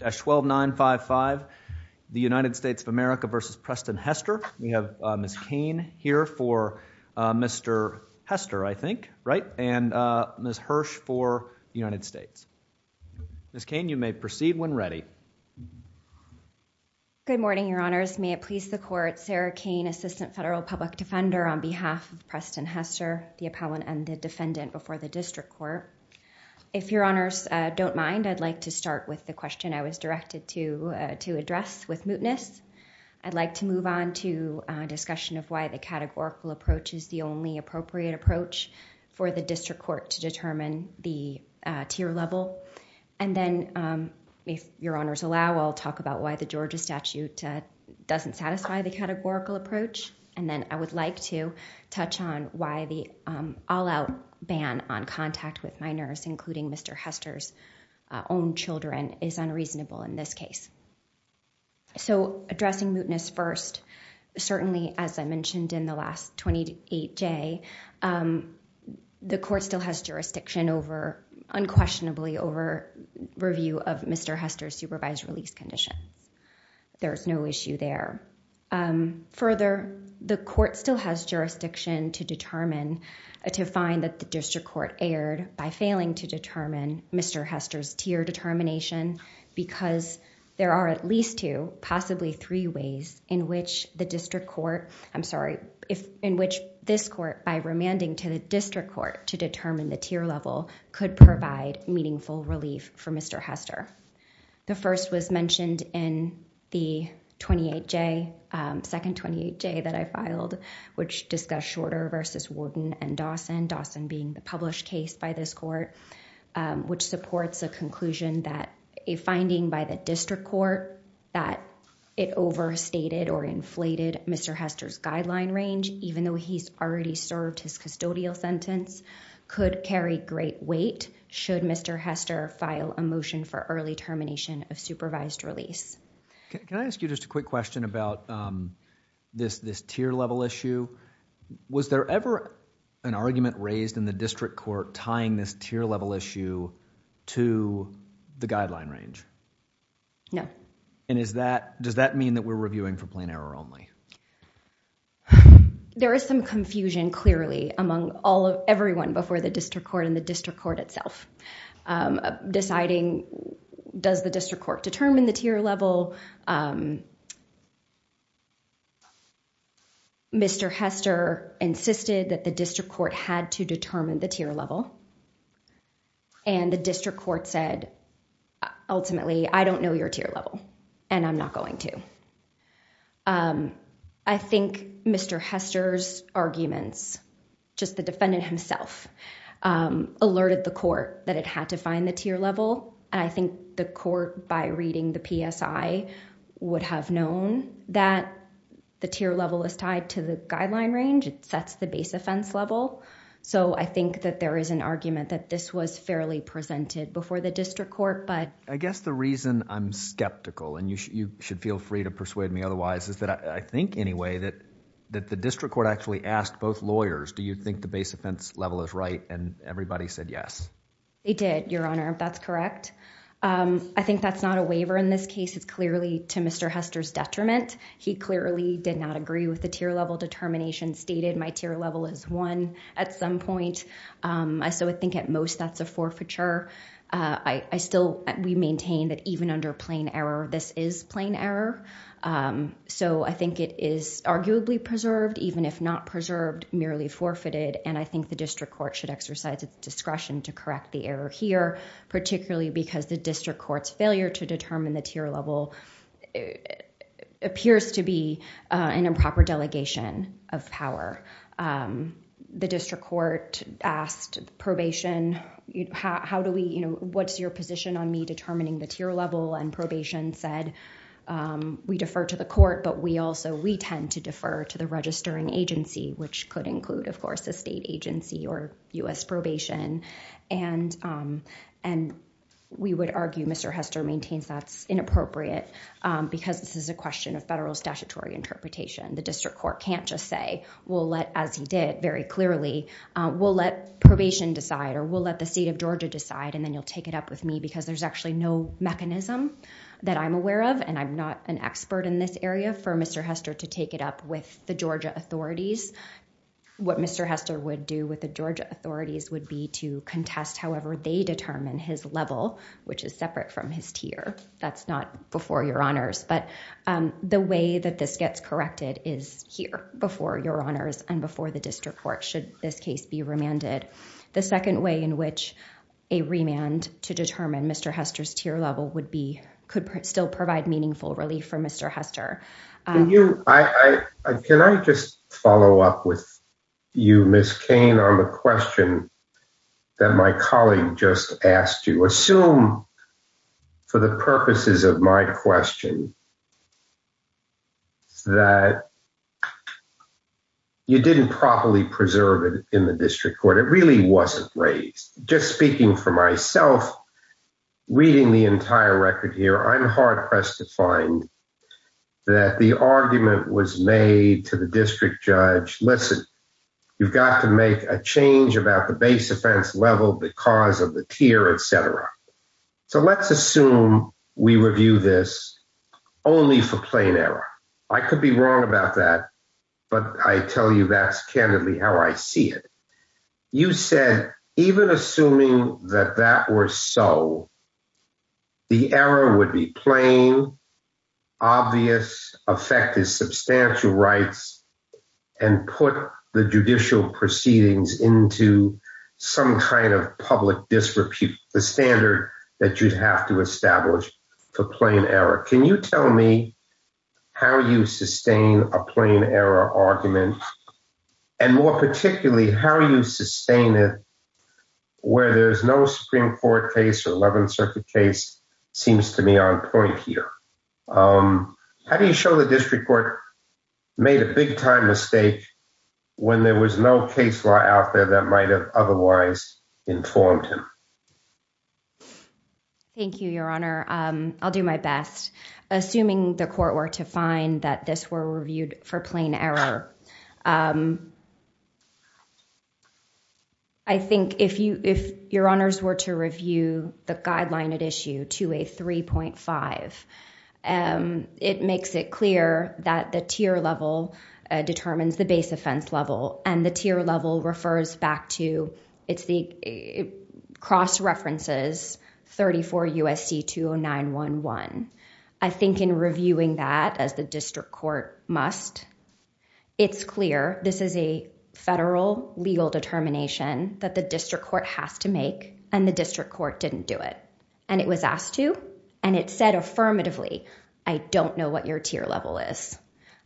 We have Ms. Cain here for Mr. Hester, I think, right? And Ms. Hirsch for the United States. Ms. Cain, you may proceed when ready. Good morning, Your Honors. May it please the Court, Sarah Cain, Assistant Federal Public Defender on behalf of Preston Hester, the appellant and the defendant before the District Court. If Your Honors don't mind, I'd like to start with the question I was directed to address with mootness. I'd like to move on to discussion of why the categorical approach is the only appropriate approach for the District Court to determine the tier level. And then, if Your Honors allow, I'll talk about why the Georgia statute doesn't satisfy the categorical approach. And then, I would like to touch on why the all-out ban on contact with minors, including Mr. Hester's own children, is unreasonable in this case. So, addressing mootness first, certainly as I mentioned in the last 28-J, the Court still has jurisdiction over, unquestionably, over review of Mr. Hester's supervised release condition. There is no issue there. Further, the Court still has jurisdiction to determine, to find that the District Court erred by failing to determine Mr. Hester's tier determination because there are at least two, possibly three ways in which the District Court... I'm sorry, in which this Court by remanding to the District Court to determine the tier level could provide meaningful relief for Mr. Hester. The first was mentioned in the 28-J, second 28-J that I filed, which discussed Shorter versus Wooden and Dawson, Dawson being the published case by this Court, which supports a conclusion that a finding by the District Court that it overstated or inflated Mr. Hester's guideline range, even though he's already served his custodial sentence, could carry a great weight, should Mr. Hester file a motion for early termination of supervised release. Can I ask you just a quick question about this tier level issue? Was there ever an argument raised in the District Court tying this tier level issue to the guideline range? No. Does that mean that we're reviewing for plain error only? There is some confusion clearly among everyone before the District Court and the District Court itself, deciding does the District Court determine the tier level? Mr. Hester insisted that the District Court had to determine the tier level and the District I think Mr. Hester's arguments, just the defendant himself, alerted the Court that it had to find the tier level. I think the Court, by reading the PSI, would have known that the tier level is tied to the guideline range. It sets the base offense level. I think that there is an argument that this was fairly presented before the District Court. I guess the reason I'm skeptical, and you should feel free to persuade me otherwise, is that I think anyway that the District Court actually asked both lawyers, do you think the base offense level is right? Everybody said yes. They did, Your Honor, if that's correct. I think that's not a waiver in this case. It's clearly to Mr. Hester's detriment. He clearly did not agree with the tier level determination stated. My tier level is one at some point, so I think at most that's a forfeiture. I still maintain that even under plain error, this is plain error, so I think it is arguably preserved, even if not preserved, merely forfeited, and I think the District Court should exercise its discretion to correct the error here, particularly because the District Court's failure to determine the tier level appears to be an improper delegation of power. The District Court asked probation, what's your position on me determining the tier level, and probation said, we defer to the court, but we also, we tend to defer to the registering agency, which could include, of course, a state agency or U.S. probation. We would argue Mr. Hester maintains that's inappropriate because this is a question of federal statutory interpretation. The District Court can't just say, we'll let, as he did very clearly, we'll let probation decide or we'll let the state of Georgia decide and then you'll take it up with me because there's actually no mechanism that I'm aware of and I'm not an expert in this area for Mr. Hester to take it up with the Georgia authorities. What Mr. Hester would do with the Georgia authorities would be to contest however they determine his level, which is separate from his tier. That's not before your honors, but the way that this gets corrected is here before your honors and before the District Court should this case be remanded. The second way in which a remand to determine Mr. Hester's tier level would be, could still provide meaningful relief for Mr. Hester. Can I just follow up with you, Ms. Cain, on the question that my colleague just asked you. Assume for the purposes of my question that you didn't properly preserve it in the District Court. It really wasn't raised. Just speaking for myself, reading the entire record here, I'm hard pressed to find that the argument was made to the District Judge, listen, you've got to make a change about the base offense level because of the tier, et cetera. So let's assume we review this only for plain error. I could be wrong about that, but I tell you that's candidly how I see it. You said even assuming that that were so, the error would be plain, obvious, affect his substantial rights and put the judicial proceedings into some kind of public disrepute, the standard that you'd have to establish for plain error. Can you tell me how you sustain a plain error argument and more particularly how you sustain it where there's no Supreme Court case or 11th Circuit case seems to me on point here. How do you show the District Court made a big time mistake when there was no case law out there that might have otherwise informed him? Thank you, Your Honor. I'll do my best. Assuming the court were to find that this were reviewed for plain error, I think if Your Honors were to review the guideline at issue 283.5, it makes it clear that the tier level determines the base offense level and the tier level refers back to, it's the cross references 34 U.S.C. 20911. I think in reviewing that as the District Court must, it's clear, this is a federal legal determination that the District Court has to make and the District Court didn't do it and it was asked to and it said affirmatively, I don't know what your tier level is.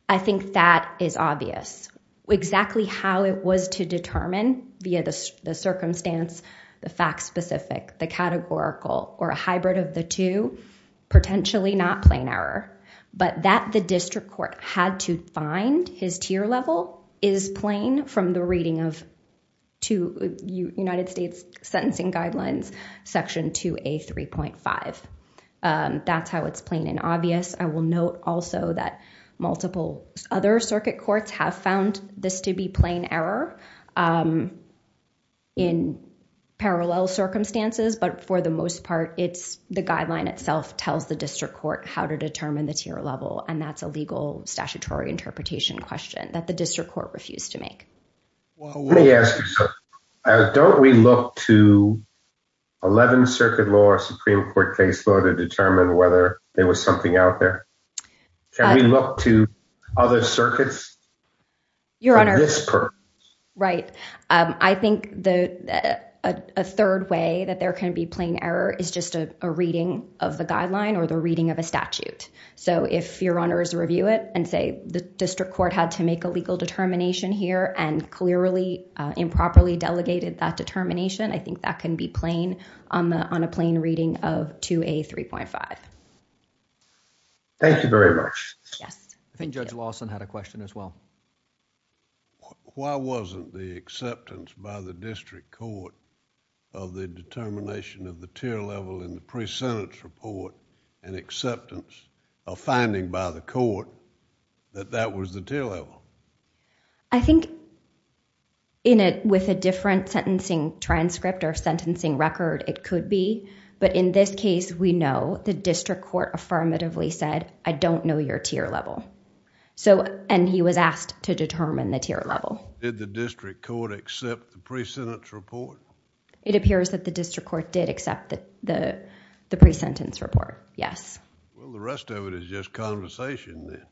I think that is obvious. Exactly how it was to determine via the circumstance, the fact specific, the categorical or a hybrid of the two, potentially not plain error, but that the District Court had to find his tier level is plain from the reading of two United States sentencing guidelines section 2A.3.5. That's how it's plain and obvious. I will note also that multiple other circuit courts have found this to be plain error in parallel circumstances, but for the most part, it's the guideline itself tells the District Court how to determine the tier level and that's a legal statutory interpretation question. That the District Court refused to make. Let me ask you, sir, don't we look to 11 circuit law or Supreme Court case law to determine whether there was something out there? Can we look to other circuits? Your Honor, right. I think that a third way that there can be plain error is just a reading of the guideline or the reading of a statute. If your Honor is to review it and say the District Court had to make a legal determination here and clearly improperly delegated that determination, I think that can be plain on a plain reading of 2A.3.5. Thank you very much. Yes. I think Judge Lawson had a question as well. Why wasn't the acceptance by the District Court of the determination of the tier level in the pre-sentence report an acceptance or finding by the court that that was the tier level? I think with a different sentencing transcript or sentencing record it could be, but in this case we know the District Court affirmatively said, I don't know your tier level. He was asked to determine the tier level. Did the District Court accept the pre-sentence report? It appears that the District Court did accept the pre-sentence report, yes. Well, the rest of it is just conversation then.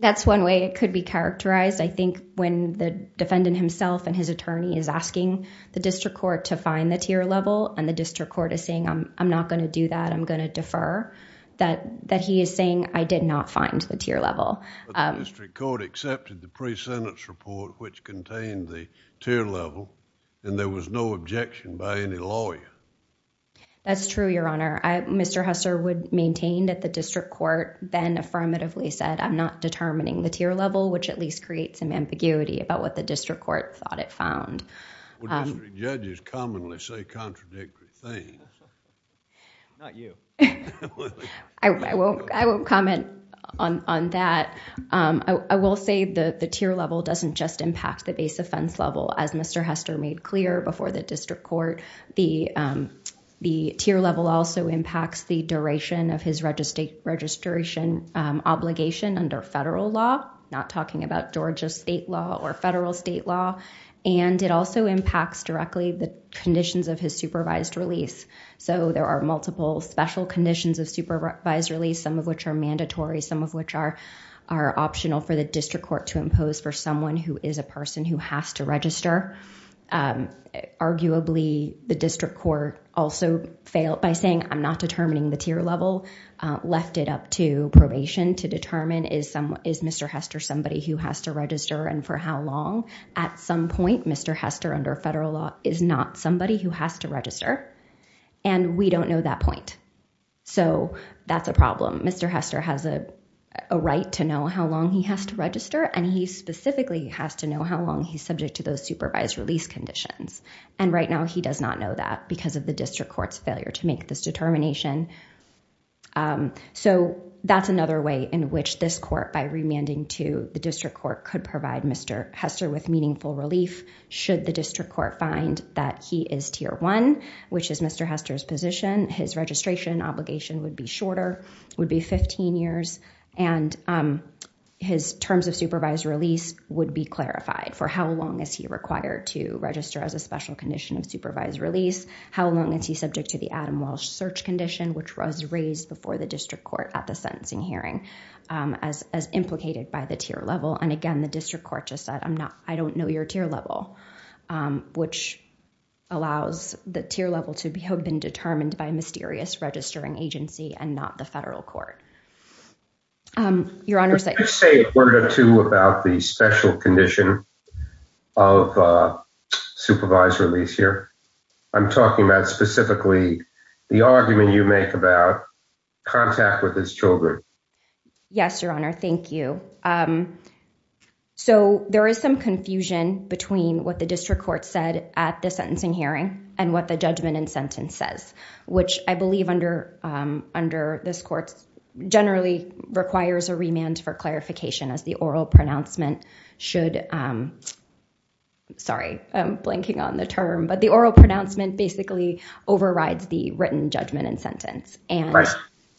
That's one way it could be characterized. I think when the defendant himself and his attorney is asking the District Court to find the tier level and the District Court is saying, I'm not going to do that, I'm going to defer, that he is saying, I did not find the tier level. The District Court accepted the pre-sentence report which contained the tier level and there was no objection by any lawyer. That's true, Your Honor. Mr. Hester would maintain that the District Court then affirmatively said, I'm not determining the tier level which at least creates some ambiguity about what the District Court thought it found. Well, district judges commonly say contradictory things. Not you. I will comment on that. I will say that the tier level doesn't just impact the base offense level as Mr. Hester made clear before the District Court. The tier level also impacts the duration of his registration obligation under federal law, not talking about Georgia state law or federal state law. It also impacts directly the conditions of his supervised release. There are multiple special conditions of supervised release, some of which are mandatory, some of which are optional for the District Court to impose for someone who is a person who has to register. Arguably, the District Court also failed by saying, I'm not determining the tier level, left it up to probation to determine is Mr. Hester somebody who has to register and for how long. At some point, Mr. Hester under federal law is not somebody who has to register and we don't know that point. So that's a problem. Mr. Hester has a right to know how long he has to register and he specifically has to know how long he's subject to those supervised release conditions. And right now, he does not know that because of the District Court's failure to make this determination. So that's another way in which this court by remanding to the District Court could provide Mr. Hester with meaningful relief should the District Court find that he is tier one, which is Mr. Hester's position. His registration obligation would be shorter, would be 15 years, and his terms of supervised release would be clarified for how long is he required to register as a special condition of supervised release, how long is he subject to the Adam Walsh search condition, which was raised before the District Court at the sentencing hearing as implicated by the tier level. And again, the District Court just said, I don't know your tier level, which allows the tier level to have been determined by a mysterious registering agency and not the federal court. Let's say a word or two about the special condition of supervised release here. I'm talking about specifically the argument you make about contact with his children. Yes, Your Honor, thank you. So there is some confusion between what the District Court said at the sentencing hearing and what the judgment and sentence says, which I believe under this court generally requires a remand for clarification as the oral pronouncement should, sorry, I'm blanking on the term, but the oral pronouncement basically overrides the written judgment and sentence. And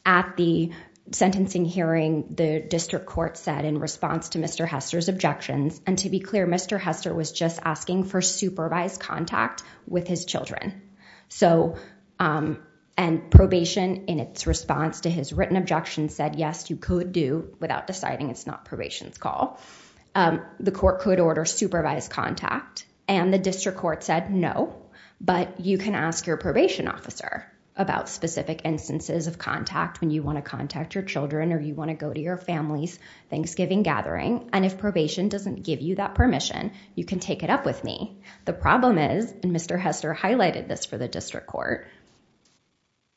at the sentencing hearing, the District Court said in response to Mr. Hester's objections, and to be clear, Mr. Hester was just asking for supervised contact with his children. So and probation in its response to his written objection said, yes, you could do without deciding it's not probation's call. The court could order supervised contact and the District Court said, no, but you can ask your probation officer about specific instances of contact when you want to contact your children or you want to go to your family's Thanksgiving gathering. And if probation doesn't give you that permission, you can take it up with me. The problem is, and Mr. Hester highlighted this for the District Court,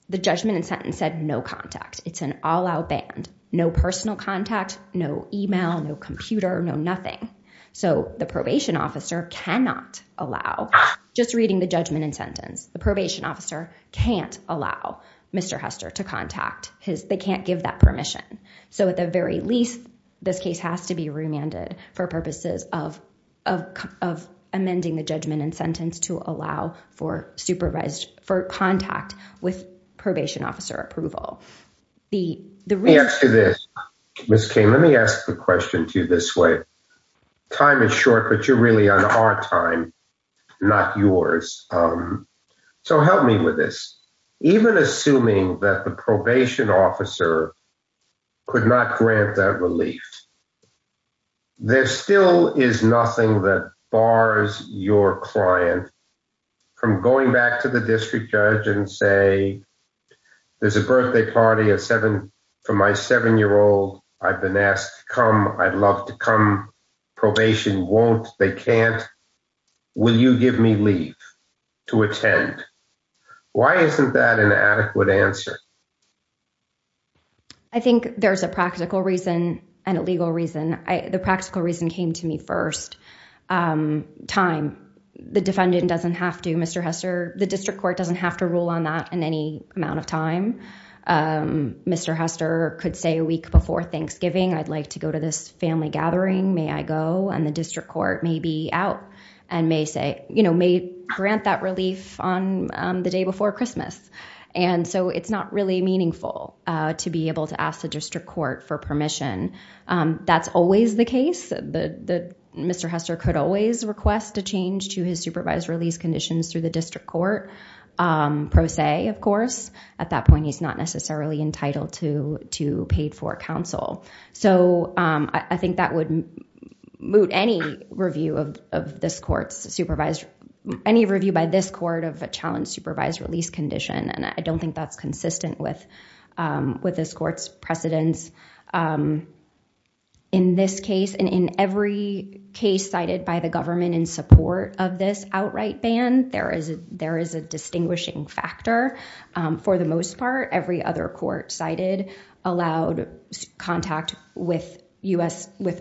the judgment and sentence said no contact. It's an all-out ban. No personal contact, no email, no computer, no nothing. So the probation officer cannot allow, just reading the judgment and sentence, the probation officer can't allow Mr. Hester to contact his, they can't give that permission. So at the very least, this case has to be remanded for purposes of amending the judgment and sentence to allow for supervised, for contact with probation officer approval. The, the real- After this, Ms. King, let me ask the question to you this way. Time is short, but you're really on our time, not yours. So help me with this. Even assuming that the probation officer could not grant that relief, there still is nothing that bars your client from going back to the district judge and say, there's a birthday party for my seven-year-old. I've been asked to come. I'd love to come. Probation won't. They can't. Will you give me leave to attend? Why isn't that an adequate answer? I think there's a practical reason and a legal reason. The practical reason came to me first. Time. The defendant doesn't have to, Mr. Hester, the district court doesn't have to rule on that in any amount of time. Mr. Hester could say a week before Thanksgiving, I'd like to go to this family gathering. May I go? And the district court may be out and may grant that relief on the day before Christmas. So it's not really meaningful to be able to ask the district court for permission. That's always the case. Mr. Hester could always request a change to his supervised release conditions through the district court, pro se, of course. At that point, he's not necessarily entitled to pay for counsel. So I think that would moot any review of this court's supervised, any review by this court of a challenge supervised release condition. And I don't think that's consistent with this court's precedents. In this case and in every case cited by the government in support of this outright ban, there is a distinguishing factor. For the most part, every other court cited allowed contact with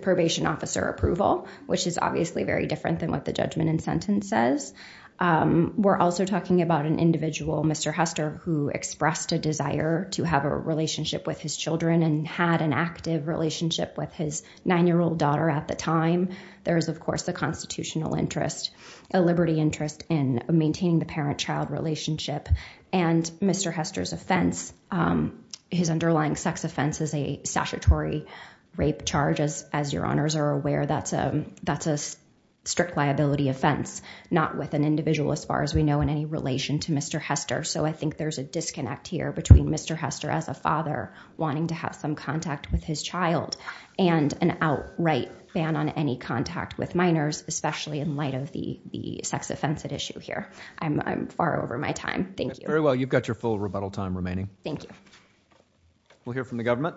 probation officer approval, which is obviously very different than what the judgment and sentence says. We're also talking about an individual, Mr. Hester, who expressed a desire to have a relationship with his children and had an active relationship with his nine-year-old daughter at the time. There is, of course, a constitutional interest, a liberty interest in maintaining the parent-child relationship. And Mr. Hester's offense, his underlying sex offense is a statutory rape charge. As your honors are aware, that's a strict liability offense, not with an individual as far as we know in any relation to Mr. Hester. So I think there's a disconnect here between Mr. Hester as a father wanting to have some contact with his child and an outright ban on any contact with minors, especially in light of the sex offense at issue here. I'm far over my time. Thank you. Very well. You've got your full rebuttal time remaining. Thank you. We'll hear from the government.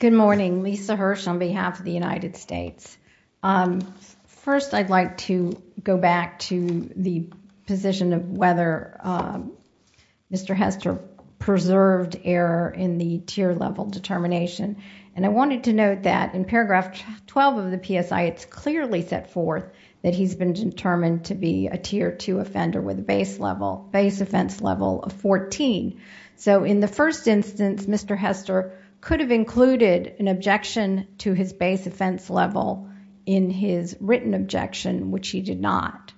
Good morning. Lisa Hirsch on behalf of the United States. First, I'd like to go back to the position of whether Mr. Hester preserved error in the tier level determination. And I wanted to note that in paragraph 12 of the PSI, it's clearly set forth that he's been determined to be a tier two offender with a base level, base offense level of 14. So in the first instance, Mr. Hester could have included an objection to his base offense level in his written objection, which he did not.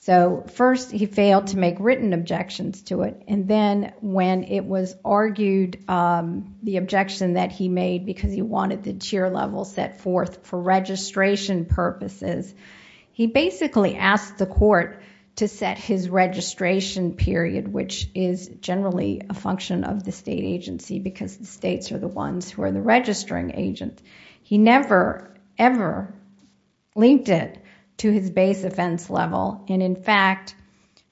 So first, he failed to make written objections to it. Then when it was argued, the objection that he made because he wanted the tier level set forth for registration purposes, he basically asked the court to set his registration period, which is generally a function of the state agency because the states are the ones who are the registering agent. He never, ever linked it to his base offense level. And in fact,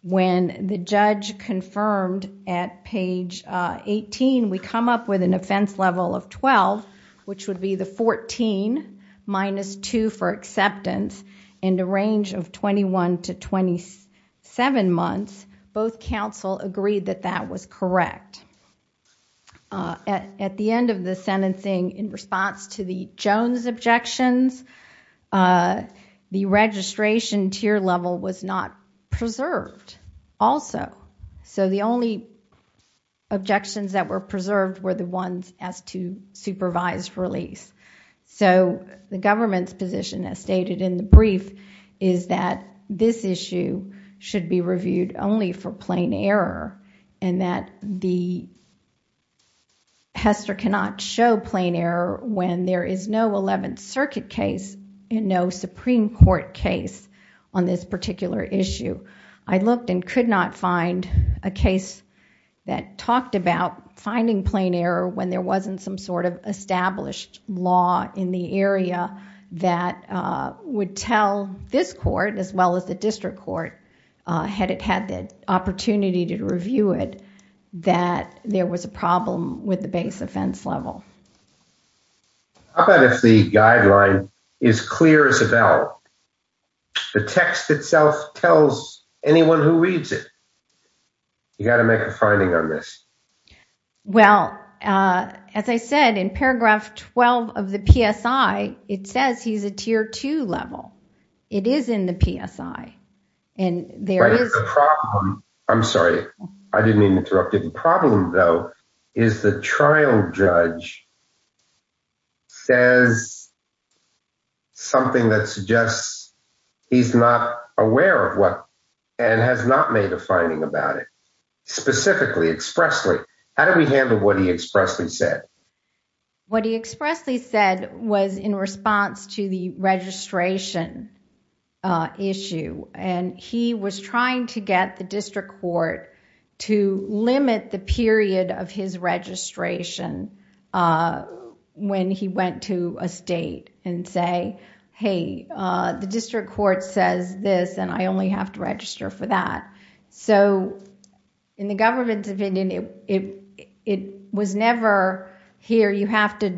when the judge confirmed at page 18, we come up with an offense level of 12, which would be the 14 minus two for acceptance in the range of 21 to 27 months, both counsel agreed that that was correct. At the end of the sentencing, in response to the Jones objections, the registration tier level was not preserved also. So the only objections that were preserved were the ones as to supervised release. So the government's position as stated in the brief is that this issue should be reviewed only for plain error and that the Hester cannot show plain error when there is no Eleventh Circuit case and no Supreme Court case on this particular issue. I looked and could not find a case that talked about finding plain error when there wasn't some sort of established law in the area that would tell this court as well as the district court, had it had the opportunity to review it, that there was a problem with the base offense level. How about if the guideline is clear as a bell? The text itself tells anyone who reads it. You got to make a finding on this. Well, as I said in paragraph 12 of the PSI, it says he's a tier two level. It is in the PSI and there is a problem. I'm sorry, I didn't mean to interrupt. Problem, though, is the trial judge says something that suggests he's not aware of what and has not made a finding about it specifically expressly. How do we handle what he expressly said? What he expressly said was in response to the registration issue, and he was trying to get the district court to limit the period of his registration when he went to a state and say, hey, the district court says this and I only have to register for that. In the government's opinion, it was never here you have to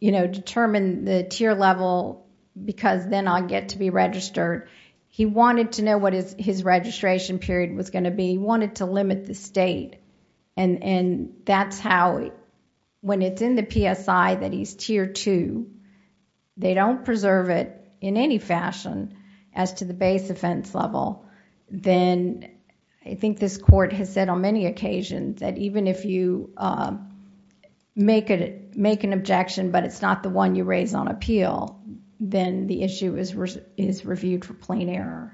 determine the tier level because then I get to be registered. He wanted to know what his registration period was going to be. He wanted to limit the state and that's how when it's in the PSI that he's tier two, they don't preserve it in any fashion as to the base offense level. Then I think this court has said on many occasions that even if you make an objection, but it's not the one you raise on appeal, then the issue is reviewed for plain error.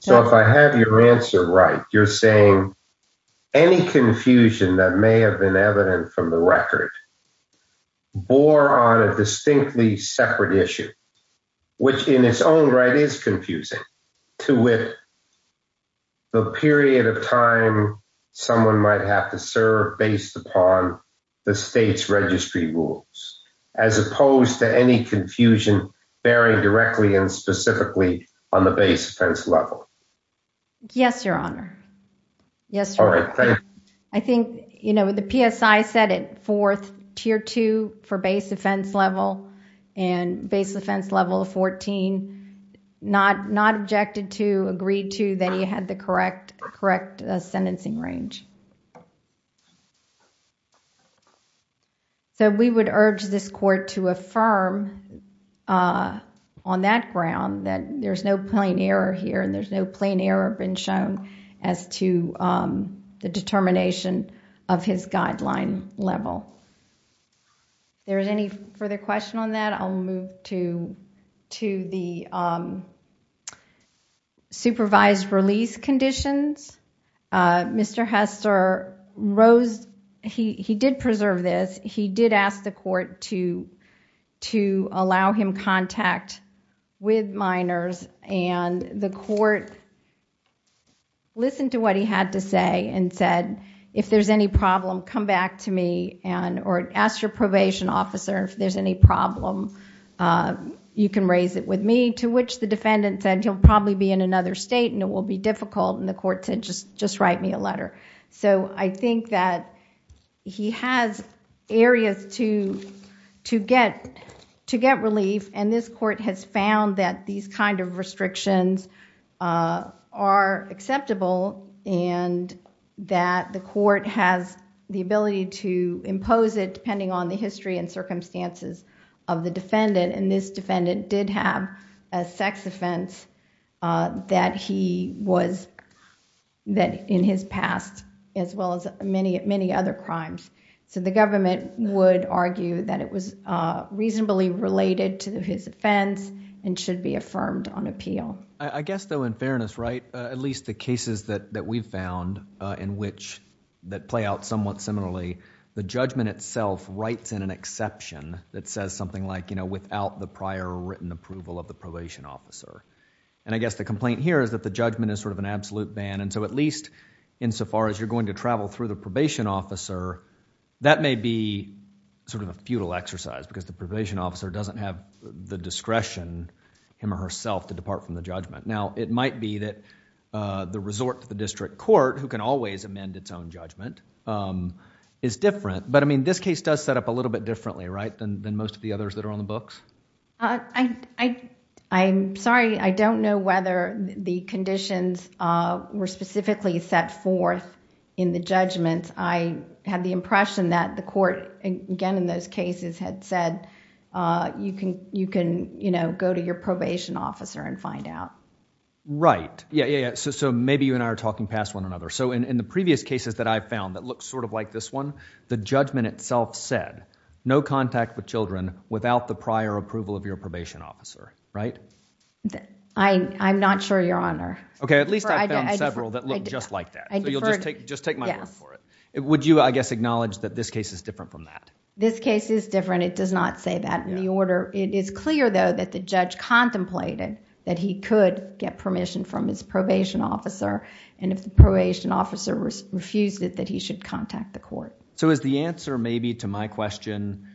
So if I have your answer right, you're saying any confusion that may have been evident from the record bore on a distinctly separate issue, which in its own right is confusing to with the period of time someone might have to serve based upon the state's registry rules, as opposed to any confusion bearing directly and specifically on the base offense level. Yes, Your Honor. I think the PSI said it fourth tier two for base offense level and base offense level fourteen, not objected to, agreed to that he had the correct sentencing range. We would urge this court to affirm on that ground that there's no plain error here and there's no plain error been shown as to the determination of his guideline level. There's any further question on that? I'll move to the supervised release conditions. Mr. Hester, he did preserve this. He did ask the court to allow him contact with minors and the court listened to what he had to say and said, if there's any problem, come back to me or ask your probation officer if there's any problem, you can raise it with me, to which the defendant said he'll probably be in another state and it will be difficult and the court said just write me a letter. I think that he has areas to get relief and this court has found that these kind of restrictions are acceptable and that the court has the ability to determine the circumstances of the defendant and this defendant did have a sex offense that he was... that in his past as well as many other crimes. The government would argue that it was reasonably related to his offense and should be affirmed on appeal. I guess though in fairness, right, at least the cases that we've found in which that play out somewhat similarly, the judgment itself writes in an exception that says something like, you know, without the prior written approval of the probation officer and I guess the complaint here is that the judgment is sort of an absolute ban and so at least insofar as you're going to travel through the probation officer, that may be sort of a futile exercise because the probation officer doesn't have the discretion, him or herself, to depart from the judgment. Now, it might be that the resort to the district court who can always amend its own judgment is different but I mean this case does set up a little bit differently, right, than most of the others that are on the books? I'm sorry. I don't know whether the conditions were specifically set forth in the judgments. I had the impression that the court, again in those cases, had said you can, you know, go to your probation officer and find out. Right. Yeah, yeah, yeah. So maybe you and I are talking past one another. So in the previous cases that I've found that look sort of like this one, the judgment itself said no contact with children without the prior approval of your probation officer, right? I'm not sure, Your Honor. Okay. At least I've found several that look just like that. You'll just take my word for it. Would you, I guess, acknowledge that this case is different from that? This case is different. It does not say that in the order. It is clear though that the judge contemplated that he could get permission from his probation officer and if the probation officer refused it, that he should contact the court. So is the answer maybe to my question,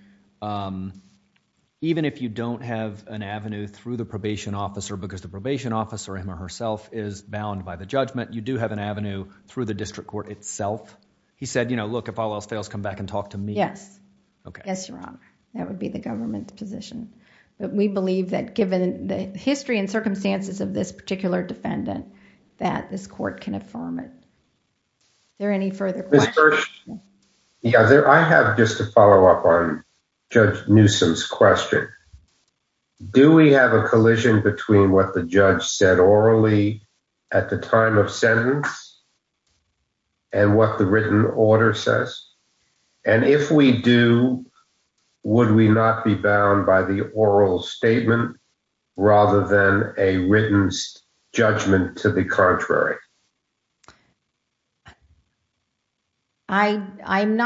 even if you don't have an avenue through the probation officer because the probation officer, him or herself, is bound by the judgment, you do have an avenue through the district court itself? He said, you know, look, if all else fails, come back and talk to me. Yes. Okay. Yes, Your Honor. That would be the government's position. We believe that given the history and circumstances of this particular defendant, that this court can affirm it. Is there any further questions? Yeah. I have just a follow-up on Judge Newsom's question. Do we have a collision between what the judge said orally at the time of sentence and what the written order says? And if we do, would we not be bound by the oral statement rather than a written judgment to the contrary? I'm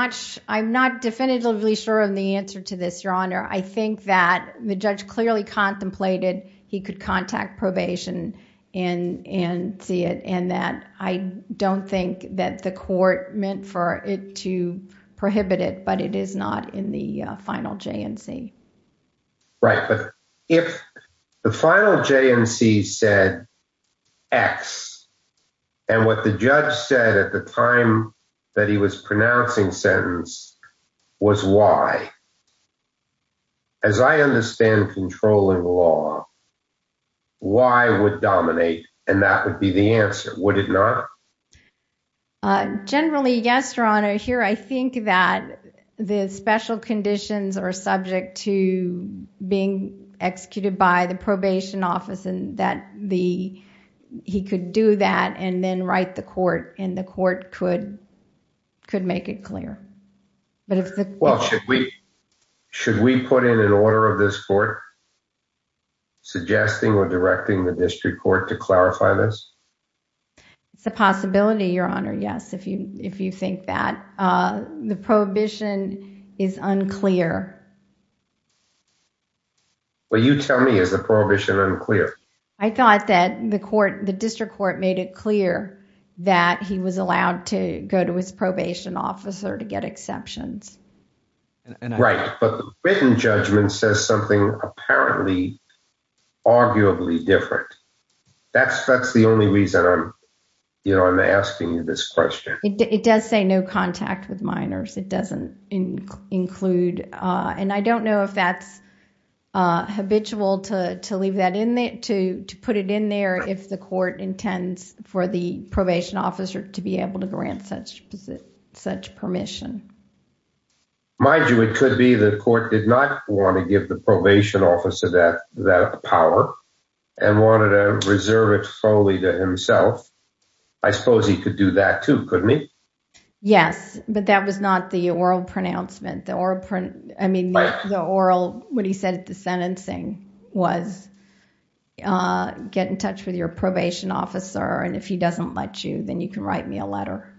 not definitively sure of the answer to this, Your Honor. I think that the judge clearly contemplated he could contact probation and see it. I don't think that the court meant for it to prohibit it, but it is not in the final J&C. Right. But if the final J&C said X and what the judge said at the time that he was pronouncing sentence was Y, as I understand controlling law, Y would dominate and that would be the answer. Would it not? Generally, yes, Your Honor. Here, I think that the special conditions are subject to being executed by the probation office and that he could do that and then write the court and the court could make it clear. Well, should we put in an order of this court suggesting or directing the district court to clarify this? It's a possibility, Your Honor. Yes, if you think that. The prohibition is unclear. Well, you tell me, is the prohibition unclear? I thought that the court, the district court made it clear that he was allowed to go to his probation officer to get exceptions. Right. But the written judgment says something apparently arguably different. That's the only reason I'm asking you this question. It does say no contact with minors. It doesn't include. And I don't know if that's habitual to put it in there if the court intends for the probation officer to be able to grant such permission. Mind you, it could be the court did not want to give the probation officer that power and wanted to reserve it solely to himself. I suppose he could do that, too, couldn't he? Yes, but that was not the oral pronouncement. I mean, the oral, what he said at the sentencing was get in touch with your probation officer, and if he doesn't let you, then you can write me a letter.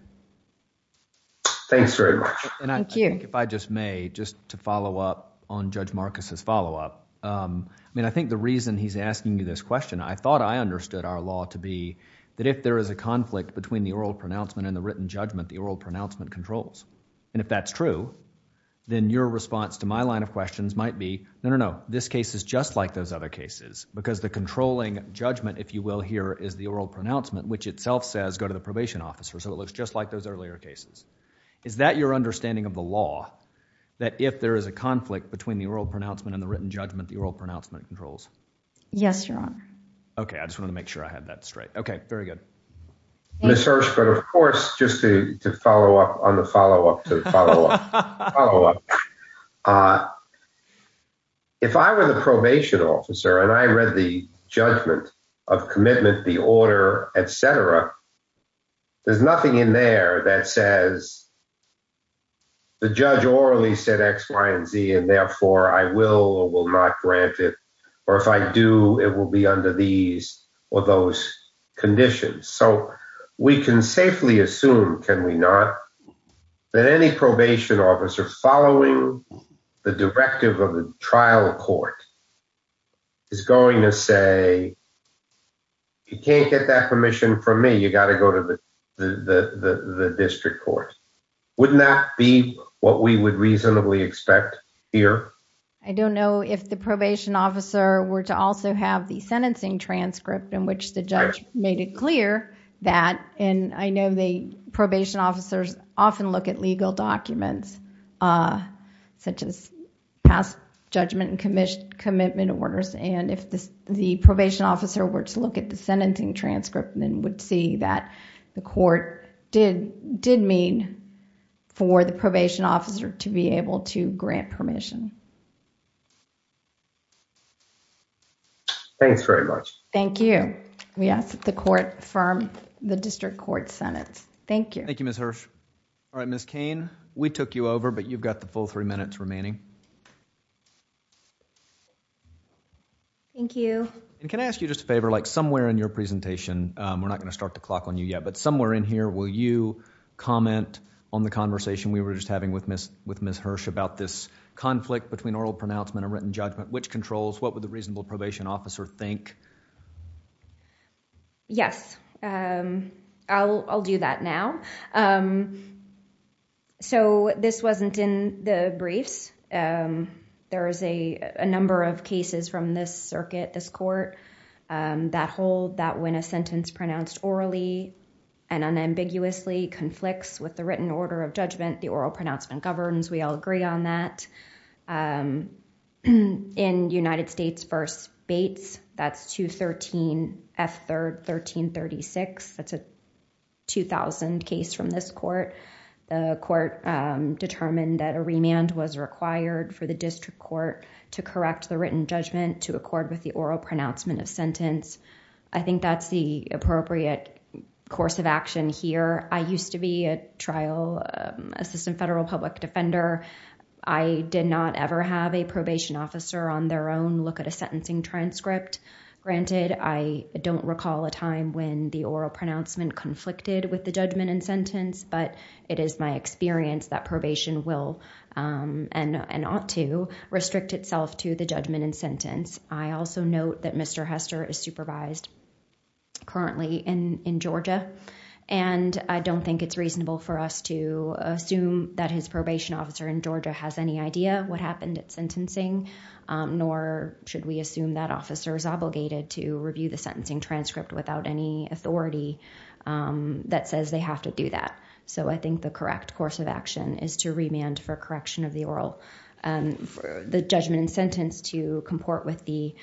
Thanks very much. And I think if I just may just to follow up on Judge Marcus's follow up. I mean, I think the reason he's asking you this question, I thought I understood our law to be that if there is a conflict between the oral pronouncement and the written judgment, the oral pronouncement controls. And if that's true, then your response to my line of questions might be, no, no, no, this case is just like those other cases, because the controlling judgment, if you will, here is the oral pronouncement, which itself says go to the probation officer. So it looks just like those earlier cases. Is that your understanding of the law, that if there is a conflict between the oral pronouncement and the written judgment, the oral pronouncement controls? Yes, Your Honor. OK, I just want to make sure I have that straight. OK, very good. Ms. Hirsch, but of course, just to follow up on the follow up to the follow up. If I were the probation officer and I read the judgment of commitment, the order, et cetera, there's nothing in there that says the judge orally said X, Y, and Z, and therefore I will or will not grant it. Or if I do, it will be under these or those conditions. So we can safely assume, can we not, that any probation officer following the directive of the trial court is going to say, you can't get that permission from me, you got to go to the district court. Wouldn't that be what we would reasonably expect here? I don't know if the probation officer were to also have the sentencing transcript in which the judge made it clear that, and I know the probation officers often look at legal documents such as past judgment and commitment orders. And if the probation officer were to look at the sentencing transcript, then would see that the court did mean for the probation officer to be able to grant permission. Thank you very much. Thank you. We ask that the court affirm the district court sentence. Thank you. Thank you, Ms. Hirsch. All right, Ms. Cain, we took you over, but you've got the full three minutes remaining. Thank you. Can I ask you just a favor, like somewhere in your presentation, we're not going to start the clock on you yet, but somewhere in here, will you comment on the conversation we were just having with Ms. Hirsch about this conflict between oral pronouncement and written judgment, which controls, what would the reasonable probation officer think? Yes, I'll do that now. So this wasn't in the briefs. There is a number of cases from this circuit, this court, that hold that when a sentence pronounced orally and unambiguously conflicts with the written order of judgment, the oral pronouncement governs. We all agree on that. In United States v. Bates, that's 213 F. 1336. That's a 2000 case from this court. The court determined that a remand was required for the district court to correct the written judgment to accord with the oral pronouncement of sentence. I think that's the appropriate course of action here. I used to be a trial assistant federal public defender. I did not ever have a probation officer on their own look at a sentencing transcript. Granted, I don't recall a time when the oral pronouncement conflicted with judgment and sentence, but it is my experience that probation will, and ought to, restrict itself to the judgment and sentence. I also note that Mr. Hester is supervised currently in Georgia, and I don't think it's reasonable for us to assume that his probation officer in Georgia has any idea what happened at sentencing, nor should we assume that officer is obligated to review the sentencing transcript without any authority that says they have to do that. I think the correct course of action is to remand for correction of the oral judgment and sentence to comport with the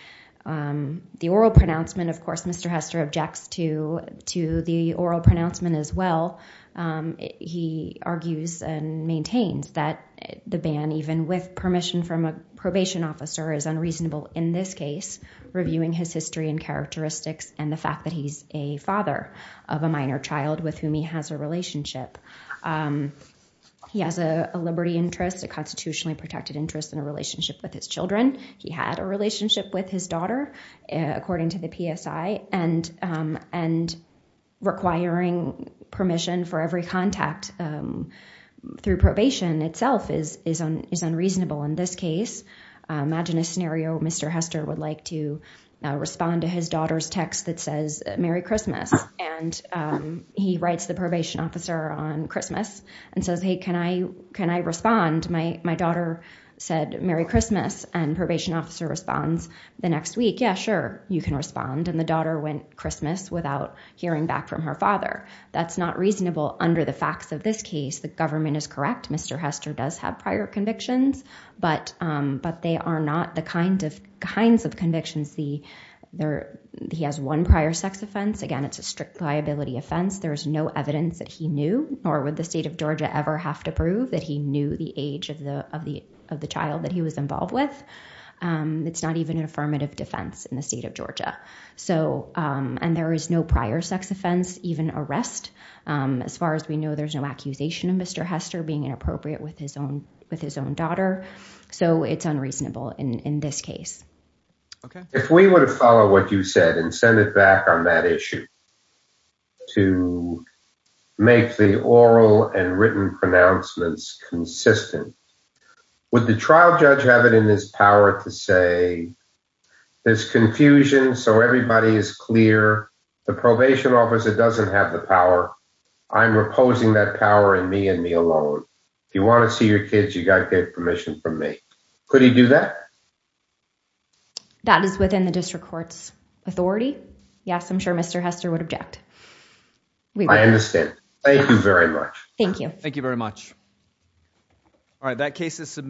oral pronouncement. Of course, Mr. Hester objects to the oral pronouncement as well. He argues and maintains that the ban, even with permission from a probation officer, is unreasonable in this case, reviewing his history and characteristics, and the fact that he's a father of a minor child with whom he has a relationship. He has a liberty interest, a constitutionally protected interest, in a relationship with his children. He had a relationship with his daughter, according to the PSI, and requiring permission for every contact through probation itself is unreasonable in this case. Imagine a scenario. Mr. Hester would like to respond to his daughter's text that says, Merry Christmas. And he writes the probation officer on Christmas and says, hey, can I respond? My daughter said, Merry Christmas. And probation officer responds the next week. Yeah, sure, you can respond. And the daughter went Christmas without hearing back from her father. That's not reasonable under the facts of this case. The government is correct. Mr. Hester does have prior convictions, but they are not the kinds of convictions. He has one prior sex offense. Again, it's a strict liability offense. There is no evidence that he knew, nor would the state of Georgia ever have to prove, that he knew the age of the child that he was involved with. It's not even an affirmative defense in the state of Georgia. And there is no prior sex offense, even arrest. As far as we know, there's no accusation of Mr. Hester being inappropriate with his own daughter. So it's unreasonable in this case. Okay. If we were to follow what you said and send it back on that issue to make the oral and written pronouncements consistent, would the trial judge have it in his power to say, there's confusion, so everybody is clear. The probation officer doesn't have the power. I'm reposing that power in me and me alone. If you want to see your kids, you got to get permission from me. Could he do that? That is within the district court's authority. Yes, I'm sure Mr. Hester would object. I understand. Thank you very much. Thank you. Thank you very much. All right, that case is submitted.